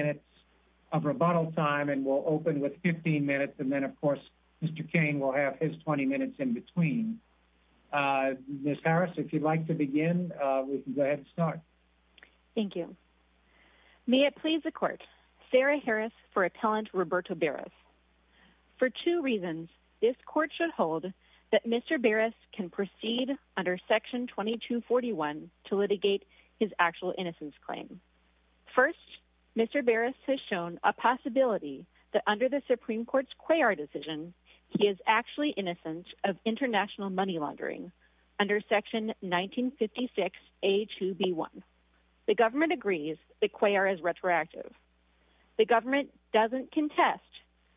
May it please the Court, Sarah Harris for Appellant Roberto Beras. For two reasons, this Court should hold that Mr. Beras can proceed under Section 2241 to litigate his actual innocence claim. First, Mr. Beras has shown a possibility that under the Supreme Court's Cuellar decision, he is actually innocent of international money laundering under Section 1956A2B1. The government agrees that Cuellar is retroactive. The government doesn't contest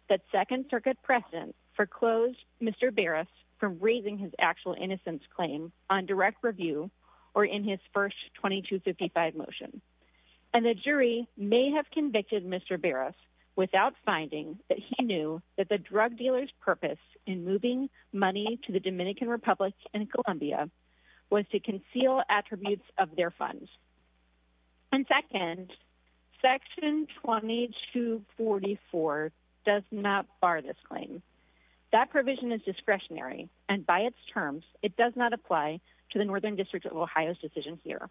that Second Circuit precedent foreclosed Mr. Beras from raising his actual innocence claim on direct review or in his first 2255 motion. And the jury may have convicted Mr. Beras without finding that he knew that the drug dealer's purpose in moving money to the Dominican Republic and Colombia was to conceal attributes of their funds. And second, Section 2244 does not bar this claim. That provision is discretionary and by its terms, it does not apply to the Northern District of Ohio's decision here.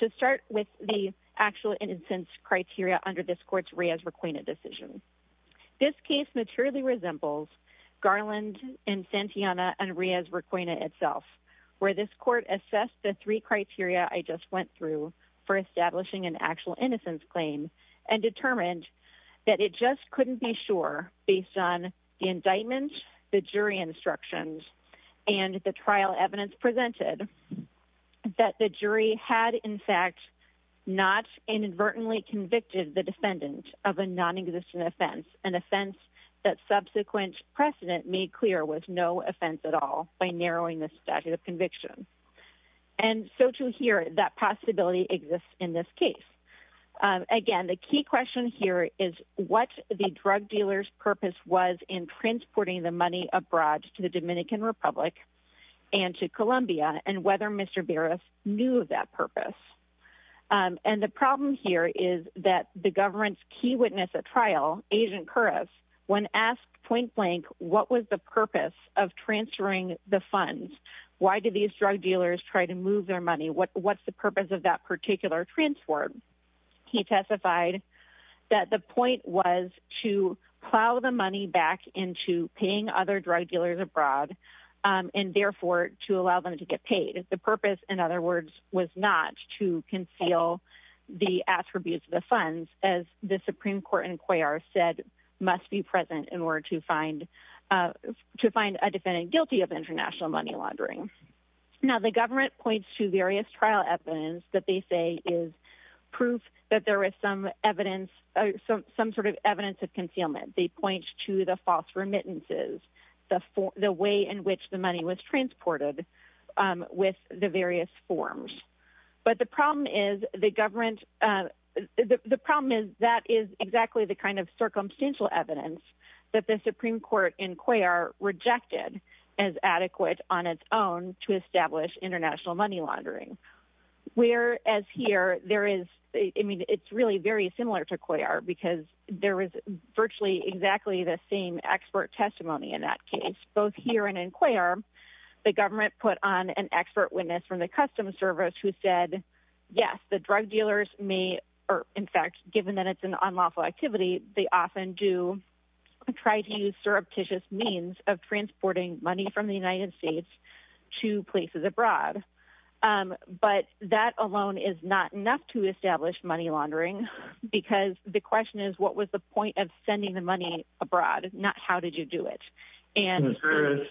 To start with the actual innocence criteria under this Court's Riaz-Raquena decision. This case materially resembles Garland and Santillana and Riaz-Raquena itself, where this Court assessed the three criteria I just went through for establishing an actual innocence claim and determined that it just couldn't be sure, based on the indictment, the jury instructions, and the trial evidence presented, that the jury had in fact not inadvertently convicted the defendant of a non-existent offense, an offense that subsequent precedent made clear was no offense at all by narrowing the statute of conviction. And so to hear that possibility exists in this case. Again, the key question here is what the drug dealer's purpose was in transporting the money abroad to the Dominican Republic and to Colombia, and whether Mr. Barras knew of that purpose. And the problem here is that the government's key witness at trial, Agent Kuras, when asked point blank what was the purpose of transferring the funds, why did these drug dealers try to move their money, what's the purpose of that particular transport, he testified that the point was to plow the money back into paying other drug dealers abroad, and therefore to allow them to get paid. The purpose, in other words, was not to conceal the attributes of the funds, as the Supreme Court in Cuellar said must be present in order to find a defendant guilty of international money laundering. Now the government points to various trial evidence that they say is proof that there is some evidence, some sort of evidence of concealment. They point to the false remittances, the way in which the money was transported with the various forms. But the problem is the government, the problem is that is exactly the kind of evidence that is adequate on its own to establish international money laundering. Whereas here, there is, I mean, it's really very similar to Cuellar, because there is virtually exactly the same expert testimony in that case. Both here and in Cuellar, the government put on an expert witness from the Customs Service who said, yes, the drug dealers may, or in fact, given that it's an unlawful activity, they often do try to use surreptitious means of transporting money from the United States to places abroad. But that alone is not enough to establish money laundering, because the question is, what was the point of sending the money abroad, not how did you do it? Mr. Harris,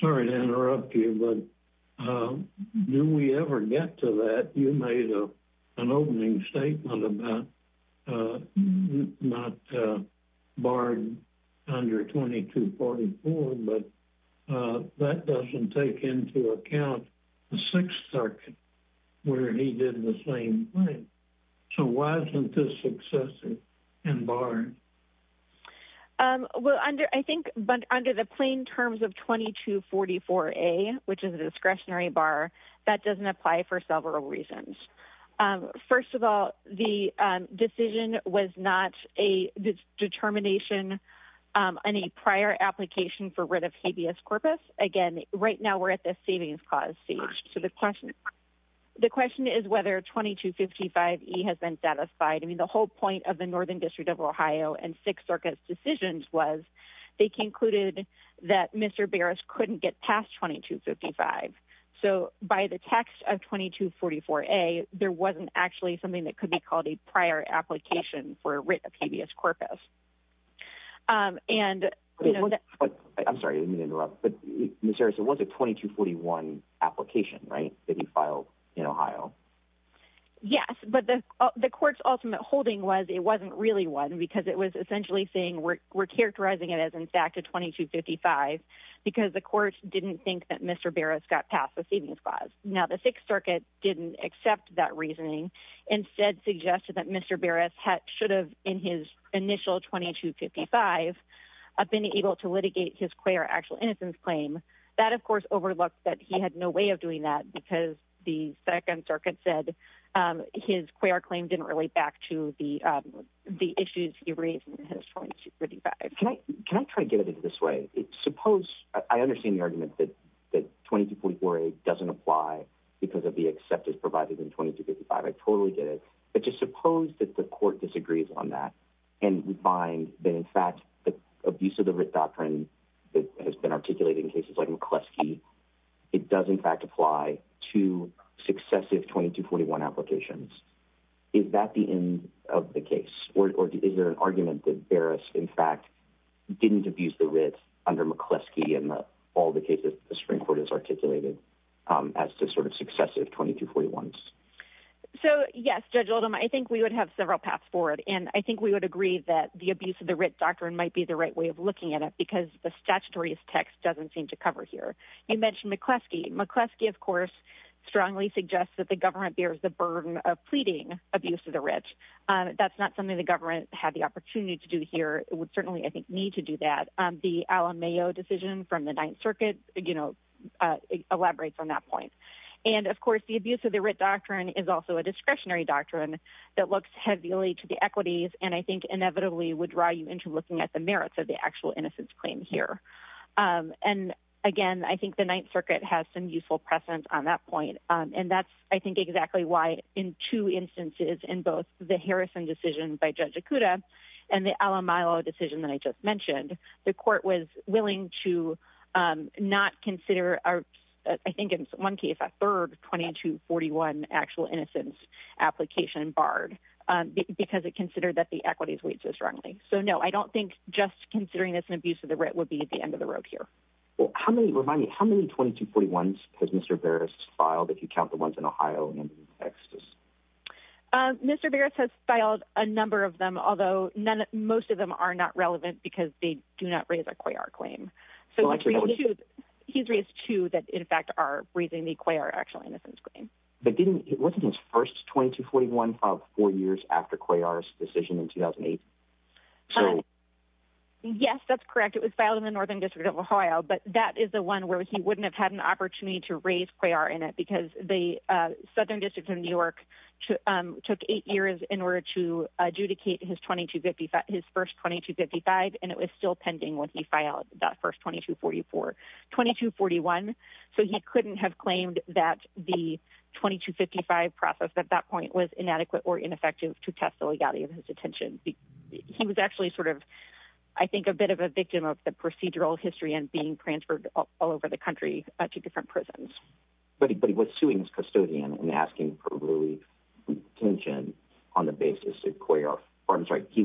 sorry to interrupt you, but do we ever get to that? You made an opening statement about not barring under 2244, but that doesn't take into account the Sixth Circuit, where he did the same thing. So why isn't this excessive and barred? Well, I think under the plain terms of 2244A, which is a discretionary bar, that doesn't apply for several reasons. First of all, the decision was not a determination in a prior application for writ of habeas corpus. Again, right now we're at the savings clause stage. So the question is whether 2255E has been satisfied. I mean, the whole point of the Northern District of Ohio and Sixth Circuit's decisions was, they concluded that Mr. Barras couldn't get past 2255. So by the text of 2244A, there wasn't actually something that could be called a prior application for a writ of habeas corpus. I'm sorry to interrupt, but Ms. Harris, it was a 2241 application, right, that he filed in Ohio? Yes, but the court's ultimate holding was it wasn't really one, because it was essentially saying we're characterizing it as, in fact, a 2255, because the court didn't think that Mr. Barras got past the savings clause. Now, the Sixth Circuit didn't accept that reasoning, instead suggested that Mr. Barras should have, in his initial 2255, been able to litigate his queer actual innocence claim. That, of course, overlooked that he had no way of doing that, because the Second Circuit said his queer claim didn't relate back to the issues he raised in his 2255. Can I try to get at it this way? Suppose, I understand the argument that 2244A doesn't apply because of the acceptance provided in 2255. I totally get it. But just suppose that the court disagrees on that, and we find that, in fact, the abuse of the writ doctrine that has been articulated in cases like McCleskey, it does, in fact, apply to successive 2241 applications. Is that the end of the case, or is there an argument that Barras, in fact, didn't abuse the writ under McCleskey in all the cases the Supreme Court has articulated as to successive 2241s? So, yes, Judge Oldham, I think we would have several paths forward. I think we would agree that the abuse of the writ doctrine might be the right way of looking at it, because the statutory text doesn't seem to cover here. You mentioned McCleskey. McCleskey, of course, strongly suggests that the government bears the burden of pleading abuse of the writ. That's not something the government had the opportunity to do here. It would certainly, I think, need to do that. The Alan Mayo decision from the Ninth Circuit elaborates on that point. And, of course, the abuse of the writ doctrine is also a discretionary doctrine that looks heavily to the equities and, I think, inevitably would draw you into looking at the merits of the actual innocence claim here. And, again, I think the Ninth Circuit has some useful precedent on that by Judge Okuda and the Alan Mayo decision that I just mentioned. The court was willing to not consider, I think in one case, a third 2241 actual innocence application barred because it considered that the equities weighed so strongly. So, no, I don't think just considering this an abuse of the writ would be the end of the road here. Well, remind me, how many 2241s has Mr. Barrett filed? A number of them, although most of them are not relevant because they do not raise a COYAR claim. He's raised two that, in fact, are raising the COYAR actual innocence claim. But wasn't his first 2241 filed four years after COYAR's decision in 2008? Yes, that's correct. It was filed in the Northern District of Ohio, but that is the one where he wouldn't have had an opportunity to raise COYAR in it because the Southern District of New York took eight years in order to adjudicate his first 2255, and it was still pending when he filed that first 2244. 2241, so he couldn't have claimed that the 2255 process at that point was inadequate or ineffective to test the legality of his detention. He was actually sort of, I think, a bit of a victim of the procedural history and being transferred all over the country to different prisons. But he was suing his custodian and asking for relief from detention on the basis of COYAR, or I'm sorry, he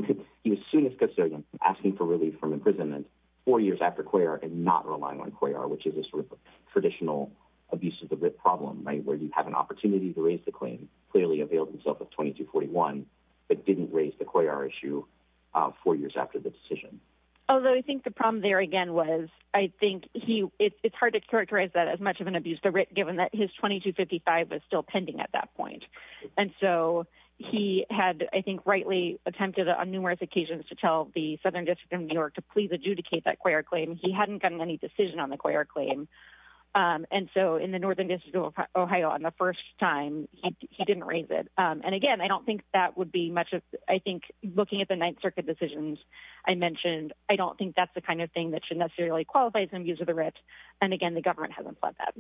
was suing his custodian, asking for relief from imprisonment four years after COYAR and not relying on COYAR, which is a sort of traditional abuse of the writ problem, right, where you have an opportunity to raise the claim, clearly availed himself of 2241, but didn't raise the COYAR issue four years after the decision. Although I think the problem there, I think it's hard to characterize that as much of an abuse of the writ, given that his 2255 was still pending at that point. And so he had, I think, rightly attempted on numerous occasions to tell the Southern District of New York to please adjudicate that COYAR claim. He hadn't gotten any decision on the COYAR claim. And so in the Northern District of Ohio, on the first time, he didn't raise it. And again, I don't think that would be much of, I think, looking at the thing that should necessarily qualify as an abuse of the writ. And again, the government hasn't fled that.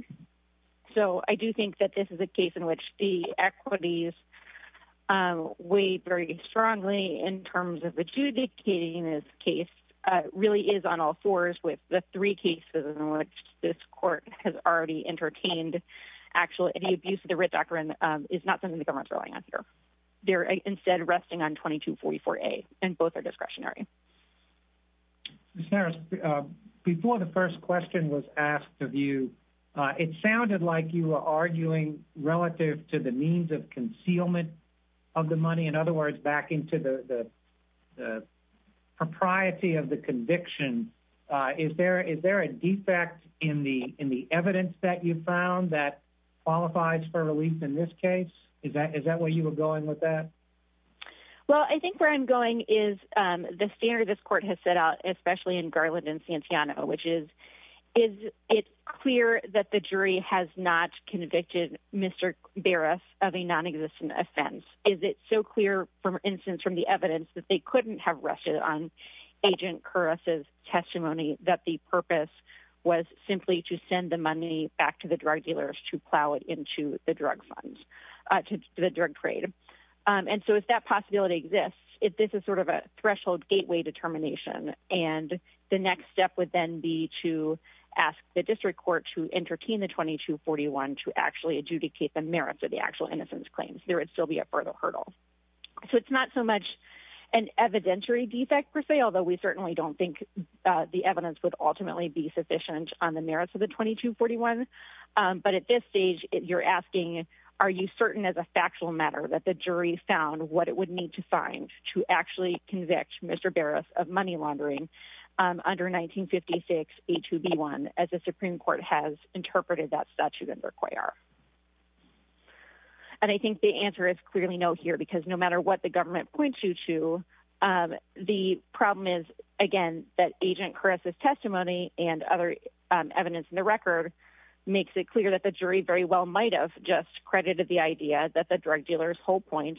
So I do think that this is a case in which the equities weigh very strongly in terms of adjudicating this case, really is on all fours with the three cases in which this court has already entertained actual abuse of the writ doctrine, is not something the government's relying on here. They're instead resting on 2244A, and both are discretionary. Mr. Harris, before the first question was asked of you, it sounded like you were arguing relative to the means of concealment of the money. In other words, back into the propriety of the conviction. Is there a defect in the evidence that you found that qualifies for relief in this case? Is that where you were going with that? Well, I think where I'm going is the standard this court has set out, especially in Garland and Santiano, which is, is it clear that the jury has not convicted Mr. Barras of a non-existent offense? Is it so clear, for instance, from the evidence that they couldn't have rested on Agent Kuras' testimony that the purpose was simply to send the money back to the drug dealers to that possibility exists, this is sort of a threshold gateway determination. And the next step would then be to ask the district court to entertain the 2241 to actually adjudicate the merits of the actual innocence claims. There would still be a further hurdle. So it's not so much an evidentiary defect per se, although we certainly don't think the evidence would ultimately be sufficient on the merits of the 2241. But at this stage, you're asking, are you certain as a factual matter that the jury found what it would need to find to actually convict Mr. Barras of money laundering under 1956A2B1, as the Supreme Court has interpreted that statute as required? And I think the answer is clearly no here, because no matter what the government points you to, the problem is, again, that Agent Kuras' testimony and other evidence in the record makes it clear that the jury very well might have just credited the idea that the drug dealer's whole point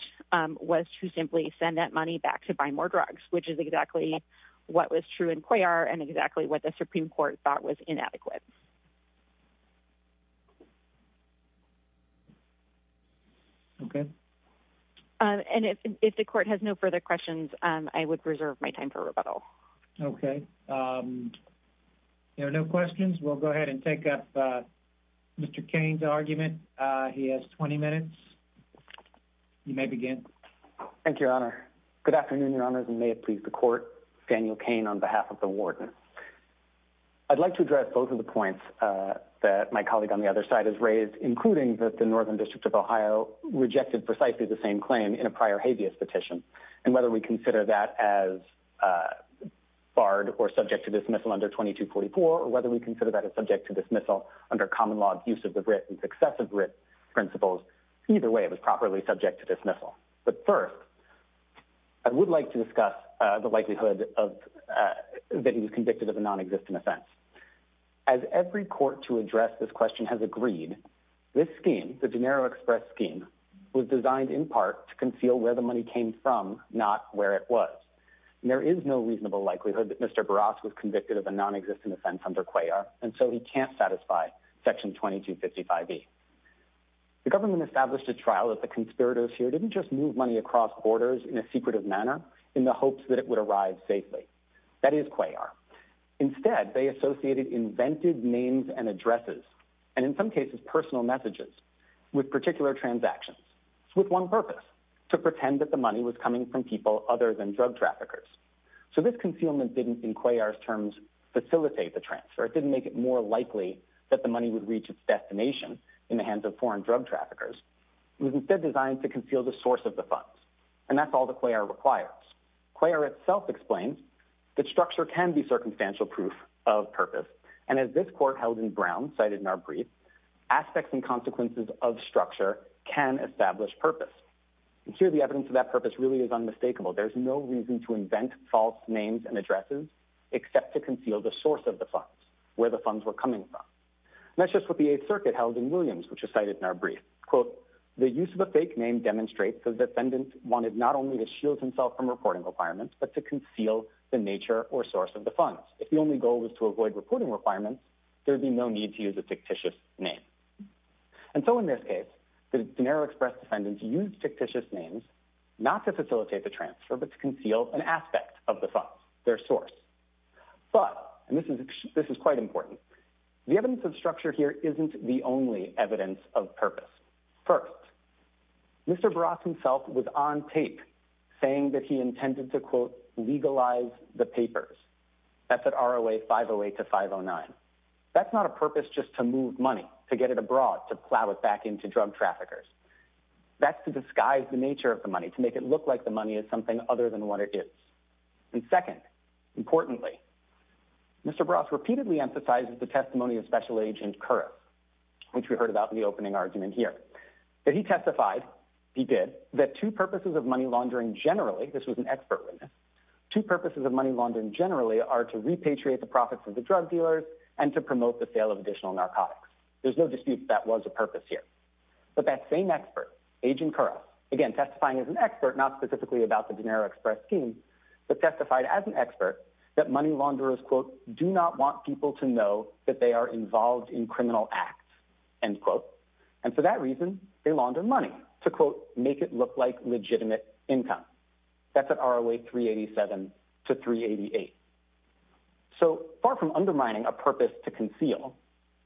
was to simply send that money back to buy more drugs, which is exactly what was true in Cuellar and exactly what the Supreme Court thought was inadequate. Okay. And if the court has no further questions, I would reserve my time for rebuttal. Okay. There are no questions. We'll go ahead and take up Mr. Kane's argument. He has 20 minutes. You may begin. Thank you, Your Honor. Good afternoon, Your Honors, and may it please the Court. Daniel Kane on behalf of the Warden. I'd like to address both of the points that my colleague on the other side has raised, including that the Northern District of Ohio rejected precisely the same claim in a prior habeas petition. And whether we consider that as barred or subject to dismissal under 2244, or whether we consider that as subject to dismissal under common law abuse of the BRIT and successive BRIT principles, either way, it was properly subject to dismissal. But first, I would like to discuss the likelihood that he was convicted of a non-existent offense. As every court to address this question has agreed, this scheme, the De Niro Express scheme, was designed in part to conceal where the money came from, not where it was. And there is no reasonable likelihood that Mr. Barras was convicted of a non-existent offense under Cuellar, and so he can't satisfy Section 2255B. The government established a trial that the conspirators here didn't just move money across borders in a secretive manner in the hopes that it would arrive safely. That is Cuellar. Instead, they associated invented names and addresses, and in some cases, personal messages, with particular transactions, with one purpose, to pretend that the money was coming from people other than drug traffickers. So this concealment didn't, in Cuellar's terms, facilitate the transfer. It didn't make it more likely that the money would reach its destination in the hands of foreign drug traffickers. It was instead designed to conceal the source of the funds. And that's all that Cuellar requires. Cuellar itself explains that structure can be consequences of structure can establish purpose. And here the evidence of that purpose really is unmistakable. There's no reason to invent false names and addresses except to conceal the source of the funds, where the funds were coming from. That's just what the Eighth Circuit held in Williams, which is cited in our brief. Quote, the use of a fake name demonstrates the defendant wanted not only to shield himself from reporting requirements, but to conceal the nature or source of the funds. If the only goal was to avoid reporting requirements, there would be no need to use a fictitious name. And so in this case, the General Express defendants used fictitious names not to facilitate the transfer, but to conceal an aspect of the funds, their source. But, and this is quite important, the evidence of structure here isn't the only evidence of purpose. First, Mr. Barras himself was on tape saying that he intended to, quote, legalize the papers. That's at ROA 508 to 509. That's not a purpose just to move money, to get it abroad, to plow it back into drug traffickers. That's to disguise the nature of the money, to make it look like the money is something other than what it is. And second, importantly, Mr. Barras repeatedly emphasizes the testimony of Special Agent Curris, which we heard about in the opening argument here, that he testified, he did, that two purposes of money laundering generally, this was an expert witness, two purposes of money laundering generally are to repatriate the profits of the drug dealers and to promote the sale of additional narcotics. There's no dispute that was a purpose here. But that same expert, Agent Curris, again testifying as an expert, not specifically about the De Niro Express scheme, but testified as an expert that money launderers, quote, do not want people to know that they are involved in criminal acts, end quote. And for that reason, they launder money to, quote, make it look like legitimate income. That's at ROA 387 to 388. So far from undermining a purpose to conceal,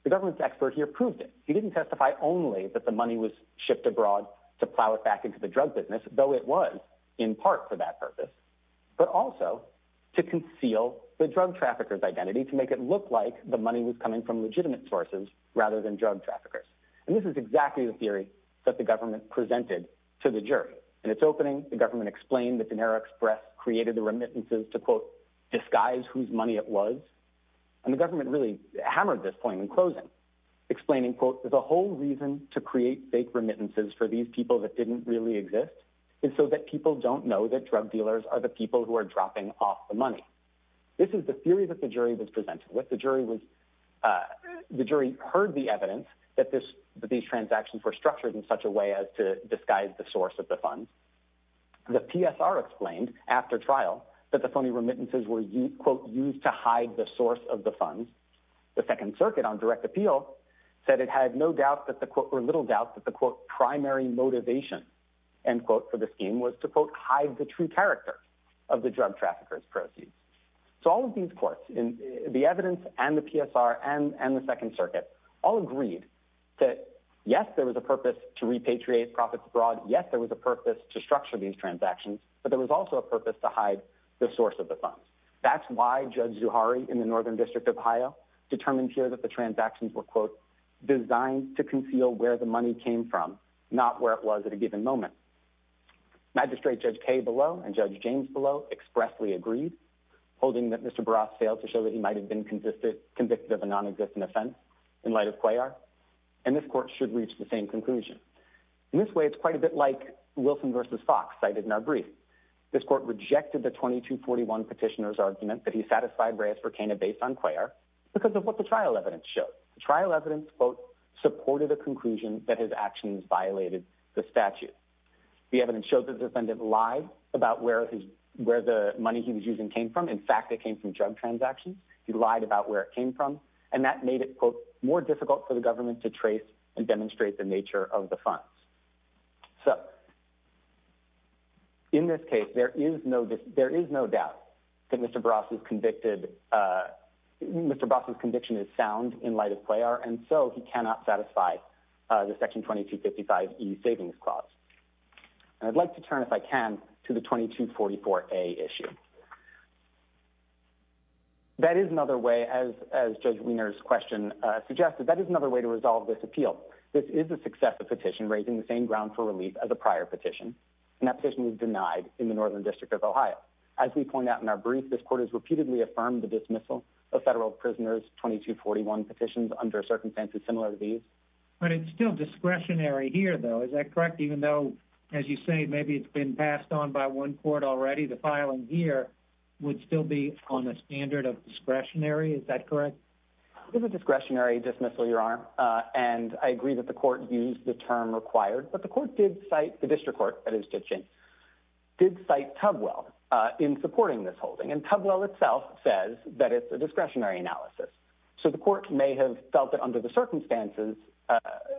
the government's expert here proved it. He didn't testify only that the money was shipped abroad to plow it back into the drug business, though it was in part for that purpose, but also to conceal the drug traffickers' identity, to make it look like the money was coming from legitimate sources rather than drug traffickers. And this is exactly the theory that the government presented to the jury. In its opening, the government explained that De Niro Express created the remittances to, quote, disguise whose money it was. And the government really hammered this point in closing, explaining, quote, the whole reason to create fake remittances for these people that didn't really exist is so that people don't know that drug dealers are the people who are dropping off the money. This is the theory that the jury was with. The jury heard the evidence that these transactions were structured in such a way as to disguise the source of the funds. The PSR explained after trial that the phony remittances were, quote, used to hide the source of the funds. The Second Circuit on direct appeal said it had no doubt that the, quote, or little doubt that the, quote, primary motivation, end quote, for the scheme was to, quote, hide the true character of the drug traffickers' proceeds. So all of these evidence and the PSR and the Second Circuit all agreed that, yes, there was a purpose to repatriate profits abroad. Yes, there was a purpose to structure these transactions. But there was also a purpose to hide the source of the funds. That's why Judge Zuhari in the Northern District of Ohio determined here that the transactions were, quote, designed to conceal where the money came from, not where it was at a given moment. Magistrate Judge Kaye Below and Judge James Below expressly agreed, holding that Mr. Barras failed to show that he might have been convicted of a non-existent offense in light of Cuellar. And this court should reach the same conclusion. In this way, it's quite a bit like Wilson v. Fox cited in our brief. This court rejected the 2241 petitioner's argument that he satisfied Reyes for Cana based on Cuellar because of what the trial evidence showed. The trial evidence, quote, supported a conclusion that his actions violated the statute. The evidence showed that the defendant lied about where the money he was using came from. In fact, it came from drug transactions. He lied about where it came from. And that made it, quote, more difficult for the government to trace and demonstrate the nature of the funds. So in this case, there is no doubt that Mr. Barras's conviction is sound in light of Cuellar. And so he cannot satisfy the Section 2255e Savings Clause. And I'd like to turn, if I can, to the 2244a issue. That is another way, as Judge Wiener's question suggested, that is another way to resolve this appeal. This is a successive petition raising the same ground for relief as a prior petition. And that petition was denied in the Northern District of Ohio. As we point out in our brief, this court has repeatedly affirmed the dismissal of federal prisoners' 2241 petitions under circumstances similar to these. But it's still discretionary here, though. Is that correct, even though, as you say, maybe it's been passed on by one court already? The filing here would still be on the standard of discretionary. Is that correct? It is a discretionary dismissal, Your Honor. And I agree that the court used the term required. But the court did cite, the district court that is ditching, did cite Tubwell in supporting this holding. And Tubwell itself says that it's a discretionary analysis. So the court may have felt that under the circumstances,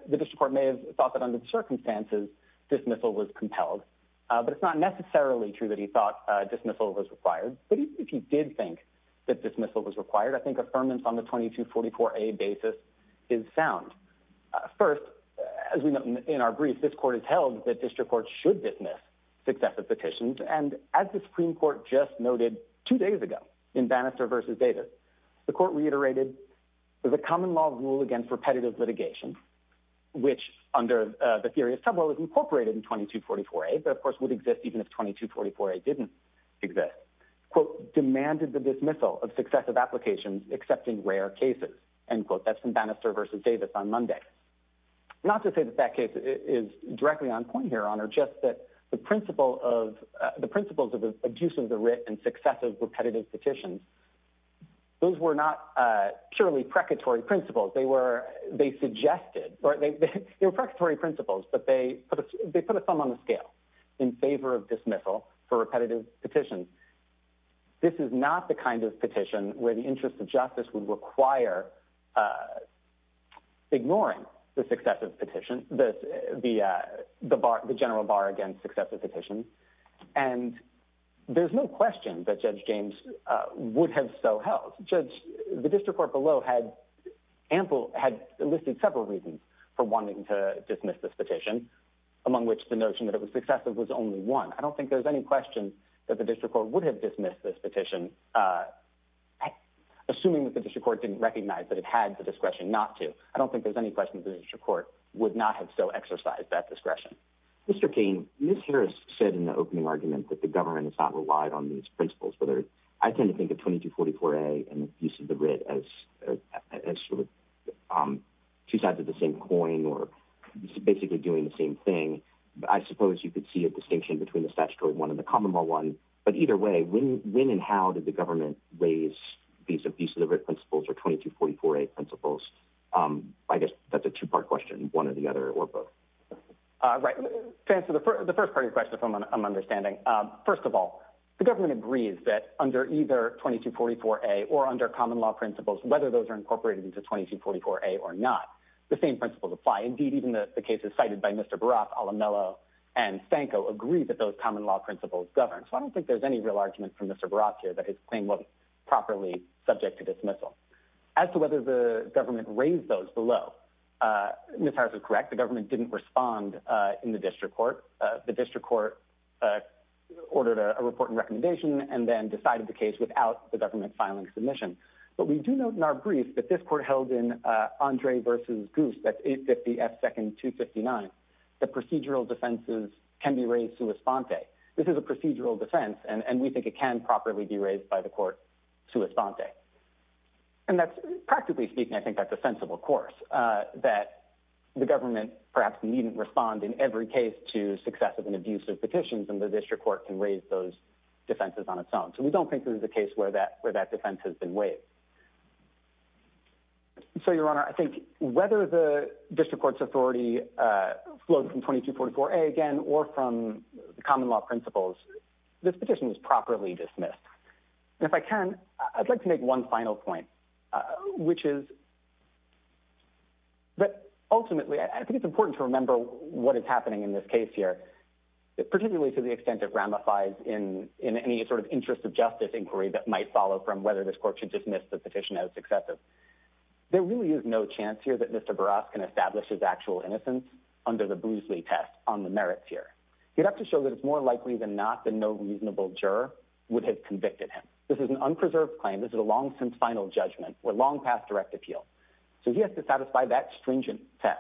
the district court may have thought that under the circumstances, dismissal was compelled. But it's not necessarily true that he thought dismissal was required. But if he did think that dismissal was required, I think affirmance on the 2244a basis is sound. First, as we know in our brief, this court has held that district courts should dismiss successive petitions. And as the Supreme Court just noted two days ago in Bannister versus Davis, the court reiterated the common law rule against repetitive litigation, which under the theory of Tubwell is incorporated in 2244a, but of course would exist even if 2244a didn't exist, quote, demanded the dismissal of successive applications, accepting rare cases, end quote. That's from Bannister versus Davis on Monday. Not to say that that case is directly on point here, Your Honor, just that the principles of the abuse of the writ and successive repetitive petitions, those were not purely precatory principles. They were, they suggested, or they were precatory principles, but they put a thumb on the scale in favor of dismissal for repetitive petitions. This is not the kind of petition where the interest of justice would require ignoring the successive petition, the general bar against successive petitions. And there's no question that Judge James would have so held. Judge, the district court below had ample, had listed several reasons for wanting to dismiss this petition, among which the notion that it was successive was only one. I don't think there's any question that the district court would have dismissed this petition, assuming that the district court didn't recognize that it had the discretion not to. I don't think there's any question that the district court would not have so exercised that discretion. Mr. Kane, Ms. Harris said in the opening argument that the government is not relied on these principles, whether I tend to think of 2244A and abuse of the writ as sort of two sides of the same coin or basically doing the same thing. I suppose you could see a distinction between the statutory one and the common law one, but either way, when and how did the government raise these abuse of the writ principles or 2244A principles? I guess that's a two-part question, one or the other or both. Right. To answer the first part of your question, if I'm understanding, first of all, the government agrees that under either 2244A or under common law principles, whether those are incorporated into 2244A or not, the same principles apply. Indeed, even the cases cited by Mr. Barath, Alamello, and Fanco agree that those common law principles govern. So I don't think there's any real argument from Mr. Barath here that his claim wasn't subject to dismissal. As to whether the government raised those below, Ms. Harris is correct. The government didn't respond in the district court. The district court ordered a report and recommendation and then decided the case without the government filing submission. But we do note in our brief that this court held in Andre versus Goose, that's 850F second 259, that procedural defenses can be raised sua sponte. This is a procedural defense, and we think it can properly be raised by the court sua sponte. And that's practically speaking, I think that's a sensible course, that the government perhaps needn't respond in every case to successive and abusive petitions, and the district court can raise those defenses on its own. So we don't think there's a case where that defense has been waived. So your honor, I think whether the district court's authority flows from 2244A again, or from the common law principles, this petition is properly dismissed. And if I can, I'd like to make one final point, which is that ultimately, I think it's important to remember what is happening in this case here, particularly to the extent it ramifies in any sort of interest of justice inquiry that might follow from whether this court should dismiss the petition as successive. There really is no chance here that Mr. Barath can establish his actual innocence under the Boozley test on the merits here. He'd have to show that it's more likely than not that no reasonable juror would have convicted him. This is an unpreserved claim, this is a long since final judgment, or long past direct appeal. So he has to satisfy that stringent test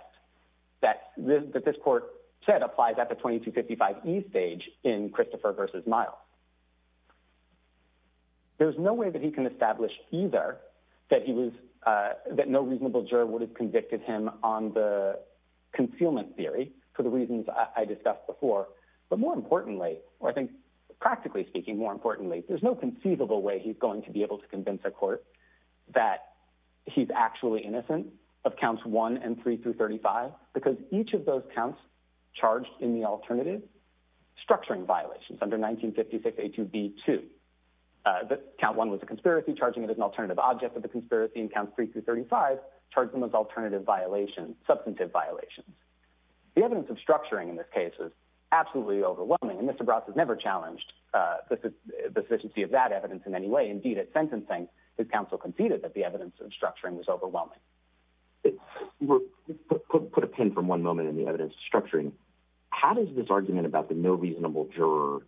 that this court said applies at the 2255E stage in Christopher versus Miles. There's no way that he can establish either that he was, that no reasonable juror would have convicted him on the concealment theory, for the reasons I discussed before. But more importantly, or I think, practically speaking, more importantly, there's no conceivable way he's going to be able to convince a court that he's actually innocent of counts one and three through 35, because each of those counts charged in the alternative structuring violations under 1956A2B2, that count one was a conspiracy, charging it as an alternative object of the substantive violations. The evidence of structuring in this case is absolutely overwhelming, and Mr. Barath has never challenged the sufficiency of that evidence in any way. Indeed, at sentencing, his counsel conceded that the evidence of structuring was overwhelming. Put a pin for one moment in the evidence structuring. How does this argument about the no reasonable juror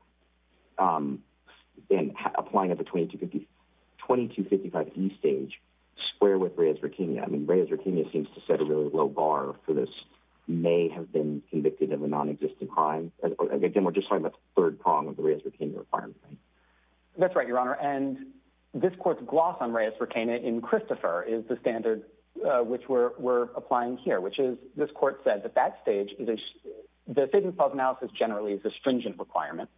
applying at the 2255E stage square with Reyes-Riquemia? I mean, to set a really low bar for this, may have been convicted of a non-existent crime. Again, we're just talking about the third prong of the Reyes-Riquemia requirement, right? That's right, Your Honor. And this court's gloss on Reyes-Riquemia in Christopher is the standard which we're applying here, which is, this court said that that stage, the statement of analysis generally is a stringent requirement.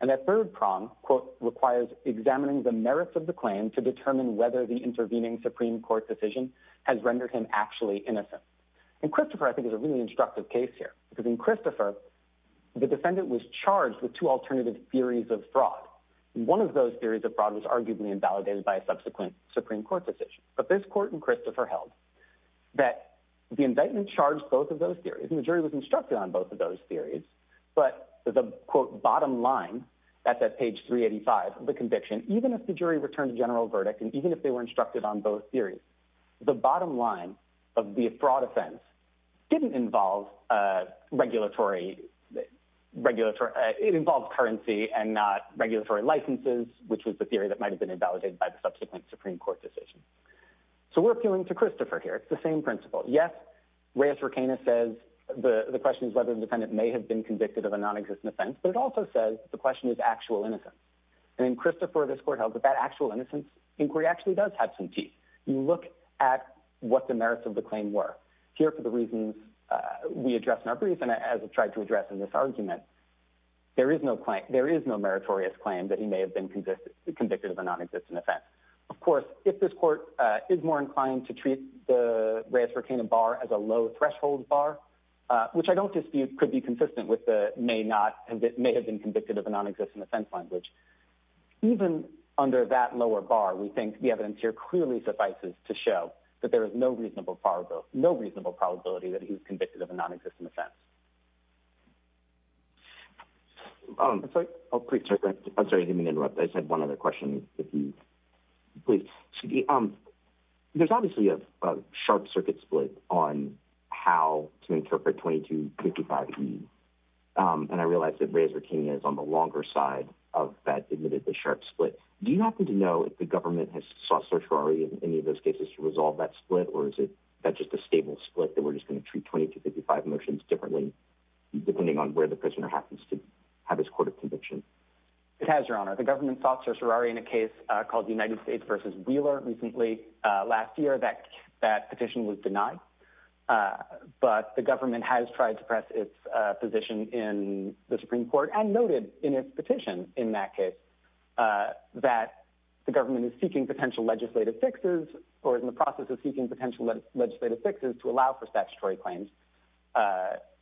And that third prong, quote, requires examining the merits of the claim to determine whether the intervening Supreme Court decision has rendered him actually innocent. And Christopher, I think, is a really instructive case here. Because in Christopher, the defendant was charged with two alternative theories of fraud. And one of those theories of fraud was arguably invalidated by a subsequent Supreme Court decision. But this court in Christopher held that the indictment charged both of those theories, and the jury was instructed on both of those theories. But the, quote, bottom line, that's at page 385 of the conviction, even if the jury returned a general verdict, and even if they were instructed on both theories, the bottom line of the fraud offense didn't involve regulatory, it involved currency and not regulatory licenses, which was the theory that might have been invalidated by the subsequent Supreme Court decision. So we're appealing to Christopher here. It's the same principle. Yes, Reyes-Riquemia says the question is whether the defendant may have been convicted of a non-existent offense, but it also says the question is actual innocence. Inquiry actually does have some teeth. You look at what the merits of the claim were. Here, for the reasons we addressed in our brief, and as I've tried to address in this argument, there is no claim, there is no meritorious claim that he may have been convicted of a non-existent offense. Of course, if this court is more inclined to treat the Reyes-Riquemia bar as a low threshold bar, which I don't dispute could be consistent with the may not, may have been we think the evidence here clearly suffices to show that there is no reasonable probability that he was convicted of a non-existent offense. I'm sorry, I didn't mean to interrupt. I just had one other question. There's obviously a sharp circuit split on how to interpret 2255E, and I realize that Reyes-Riquemia is on the longer side of that admittedly sharp split. Do you happen to know if the government has sought certiorari in any of those cases to resolve that split, or is that just a stable split that we're just going to treat 2255 motions differently depending on where the prisoner happens to have his court of conviction? It has, Your Honor. The government sought certiorari in a case called United States v. Wheeler recently last year. That petition was denied, but the government has tried to press its position in the Supreme Court and noted in its petition in that case that the government is seeking potential legislative fixes or is in the process of seeking potential legislative fixes to allow for statutory claims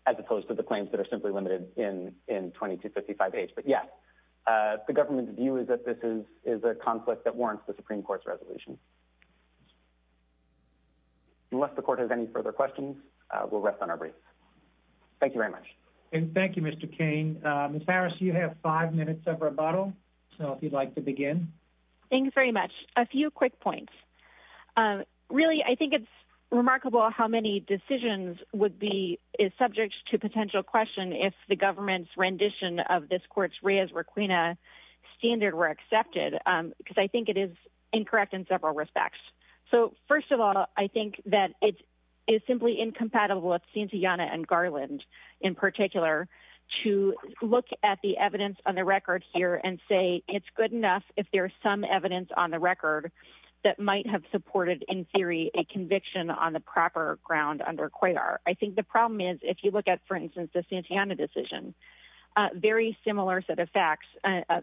as opposed to the claims that are simply limited in 2255H. But yes, the government's view is that this is a conflict that warrants the Supreme Court's resolution. Unless the court has any further questions, we'll rest on our briefs. Thank you very much. And thank you, Mr. Cain. Ms. Harris, you have five minutes of rebuttal, so if you'd like to begin. Thank you very much. A few quick points. Really, I think it's remarkable how many decisions would be subject to potential question if the government's rendition of this court's Reyes-Riquemia standard were accepted, because I think it is incorrect in several ways. So, first of all, I think that it is simply incompatible with Santayana and Garland, in particular, to look at the evidence on the record here and say it's good enough if there's some evidence on the record that might have supported, in theory, a conviction on the proper ground under COIAR. I think the problem is, if you look at, for instance, the Santayana decision, a very similar set of facts, a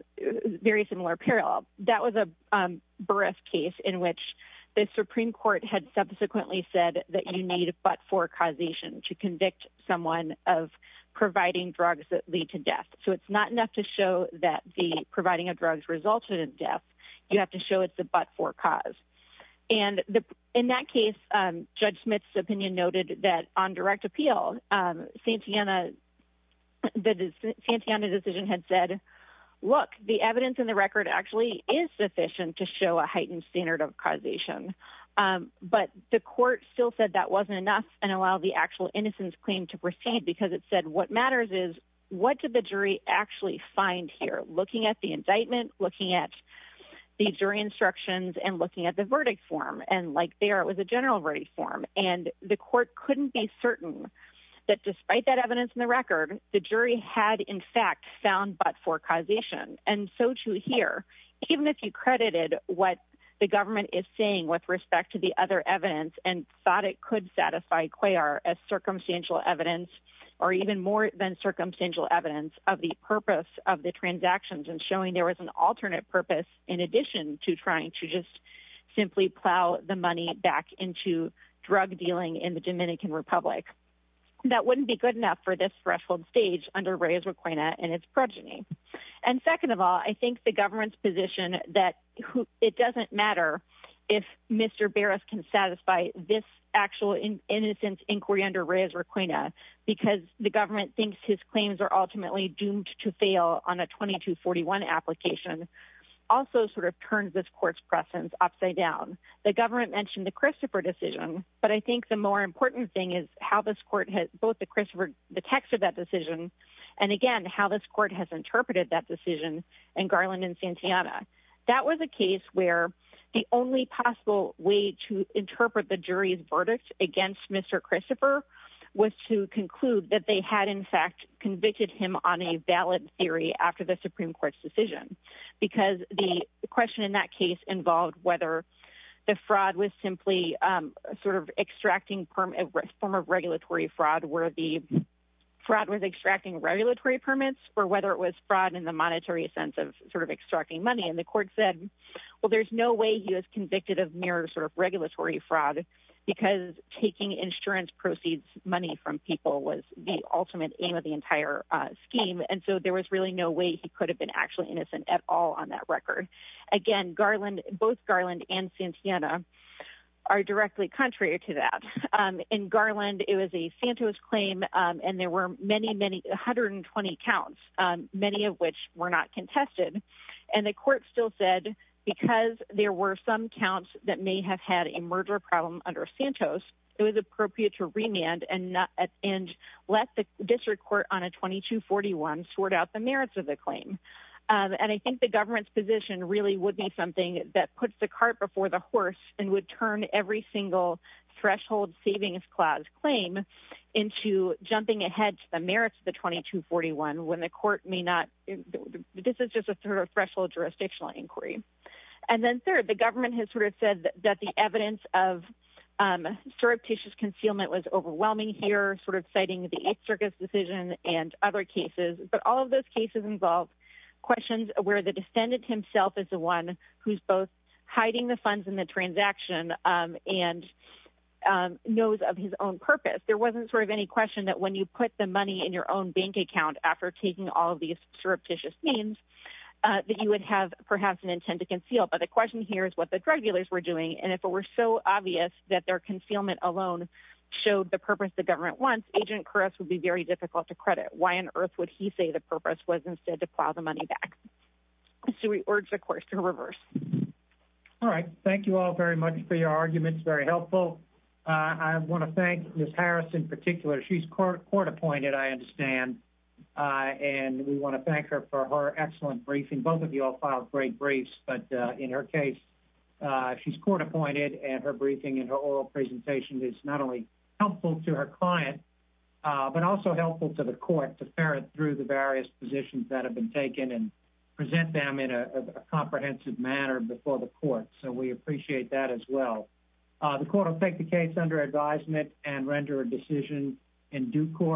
very similar parallel. That was a bereft case in which the Supreme Court had subsequently said that you need a but-for causation to convict someone of providing drugs that lead to death. So it's not enough to show that the providing of drugs resulted in death. You have to show it's a but-for cause. And in that case, Judge Smith's direct appeal, the Santayana decision had said, look, the evidence in the record actually is sufficient to show a heightened standard of causation. But the court still said that wasn't enough and allowed the actual innocence claim to proceed, because it said what matters is what did the jury actually find here, looking at the indictment, looking at the jury instructions, and looking at the verdict form. And like there, it was a general verdict form. And the court couldn't be certain that despite that evidence in the record, the jury had in fact found but-for causation. And so to hear, even if you credited what the government is saying with respect to the other evidence and thought it could satisfy COIAR as circumstantial evidence, or even more than circumstantial evidence, of the purpose of the transactions and showing there was an alternate purpose in addition to trying to just simply plow the money back into drug dealing in the Dominican Republic, that wouldn't be good enough for this threshold stage under Reyes-Requena and its progeny. And second of all, I think the government's position that it doesn't matter if Mr. Barras can satisfy this actual innocence inquiry under Reyes-Requena because the government thinks his claims are ultimately doomed to fail on a 2241 application, also sort of turns this court's presence upside down. The government mentioned the Christopher decision, but I think the more important thing is how this court has, both the text of that decision, and again, how this court has interpreted that decision in Garland and Santillana. That was a case where the only possible way to interpret the jury's verdict against Mr. Christopher was to conclude that they had, in fact, convicted him on a valid theory after the Supreme Court's decision, because the question in that case involved whether the fraud was simply sort of extracting form of regulatory fraud, where the fraud was extracting regulatory permits, or whether it was fraud in the monetary sense of sort of extracting money. And the court said, well, there's no way he was convicted of mere sort of regulatory fraud because taking insurance proceeds money from people was the ultimate aim of the entire scheme, and so there was really no way he could have been actually innocent at all on that record. Again, both Garland and Santillana are directly contrary to that. In Garland, it was a Santos claim, and there were many, many, 120 counts, many of which were not contested. And the court still said, because there were some counts that may have had a murder problem under Santos, it was appropriate to remand and let the district court on a 2241 sort out the merits of the claim. And I think the government's position really would be something that puts the cart before the horse and would turn every single threshold savings clause claim into jumping ahead to the merits of the 2241 when the court may not, this is just a threshold jurisdictional inquiry. And then third, the government has sort of said that the evidence of surreptitious concealment was overwhelming here, sort of citing the East Circus decision and other cases, but all of those cases involve questions where the defendant himself is the one who's both hiding the funds in the transaction and knows of his own purpose. There wasn't sort of any question that when you put the money in your own bank account after taking all of these that you would have perhaps an intent to conceal. But the question here is what the drug dealers were doing. And if it were so obvious that their concealment alone showed the purpose the government wants, Agent Koresh would be very difficult to credit. Why on earth would he say the purpose was instead to plow the money back? So we urge the court to reverse. All right. Thank you all very much for your arguments. Very helpful. I want to thank Ms. Harris in particular. She's court appointed, I understand. And we want to thank her for her briefing. Both of you all filed great briefs, but in her case she's court appointed and her briefing and her oral presentation is not only helpful to her client, but also helpful to the court to ferret through the various positions that have been taken and present them in a comprehensive manner before the court. So we appreciate that as well. The court will take the case under advisement and render a decision in due course.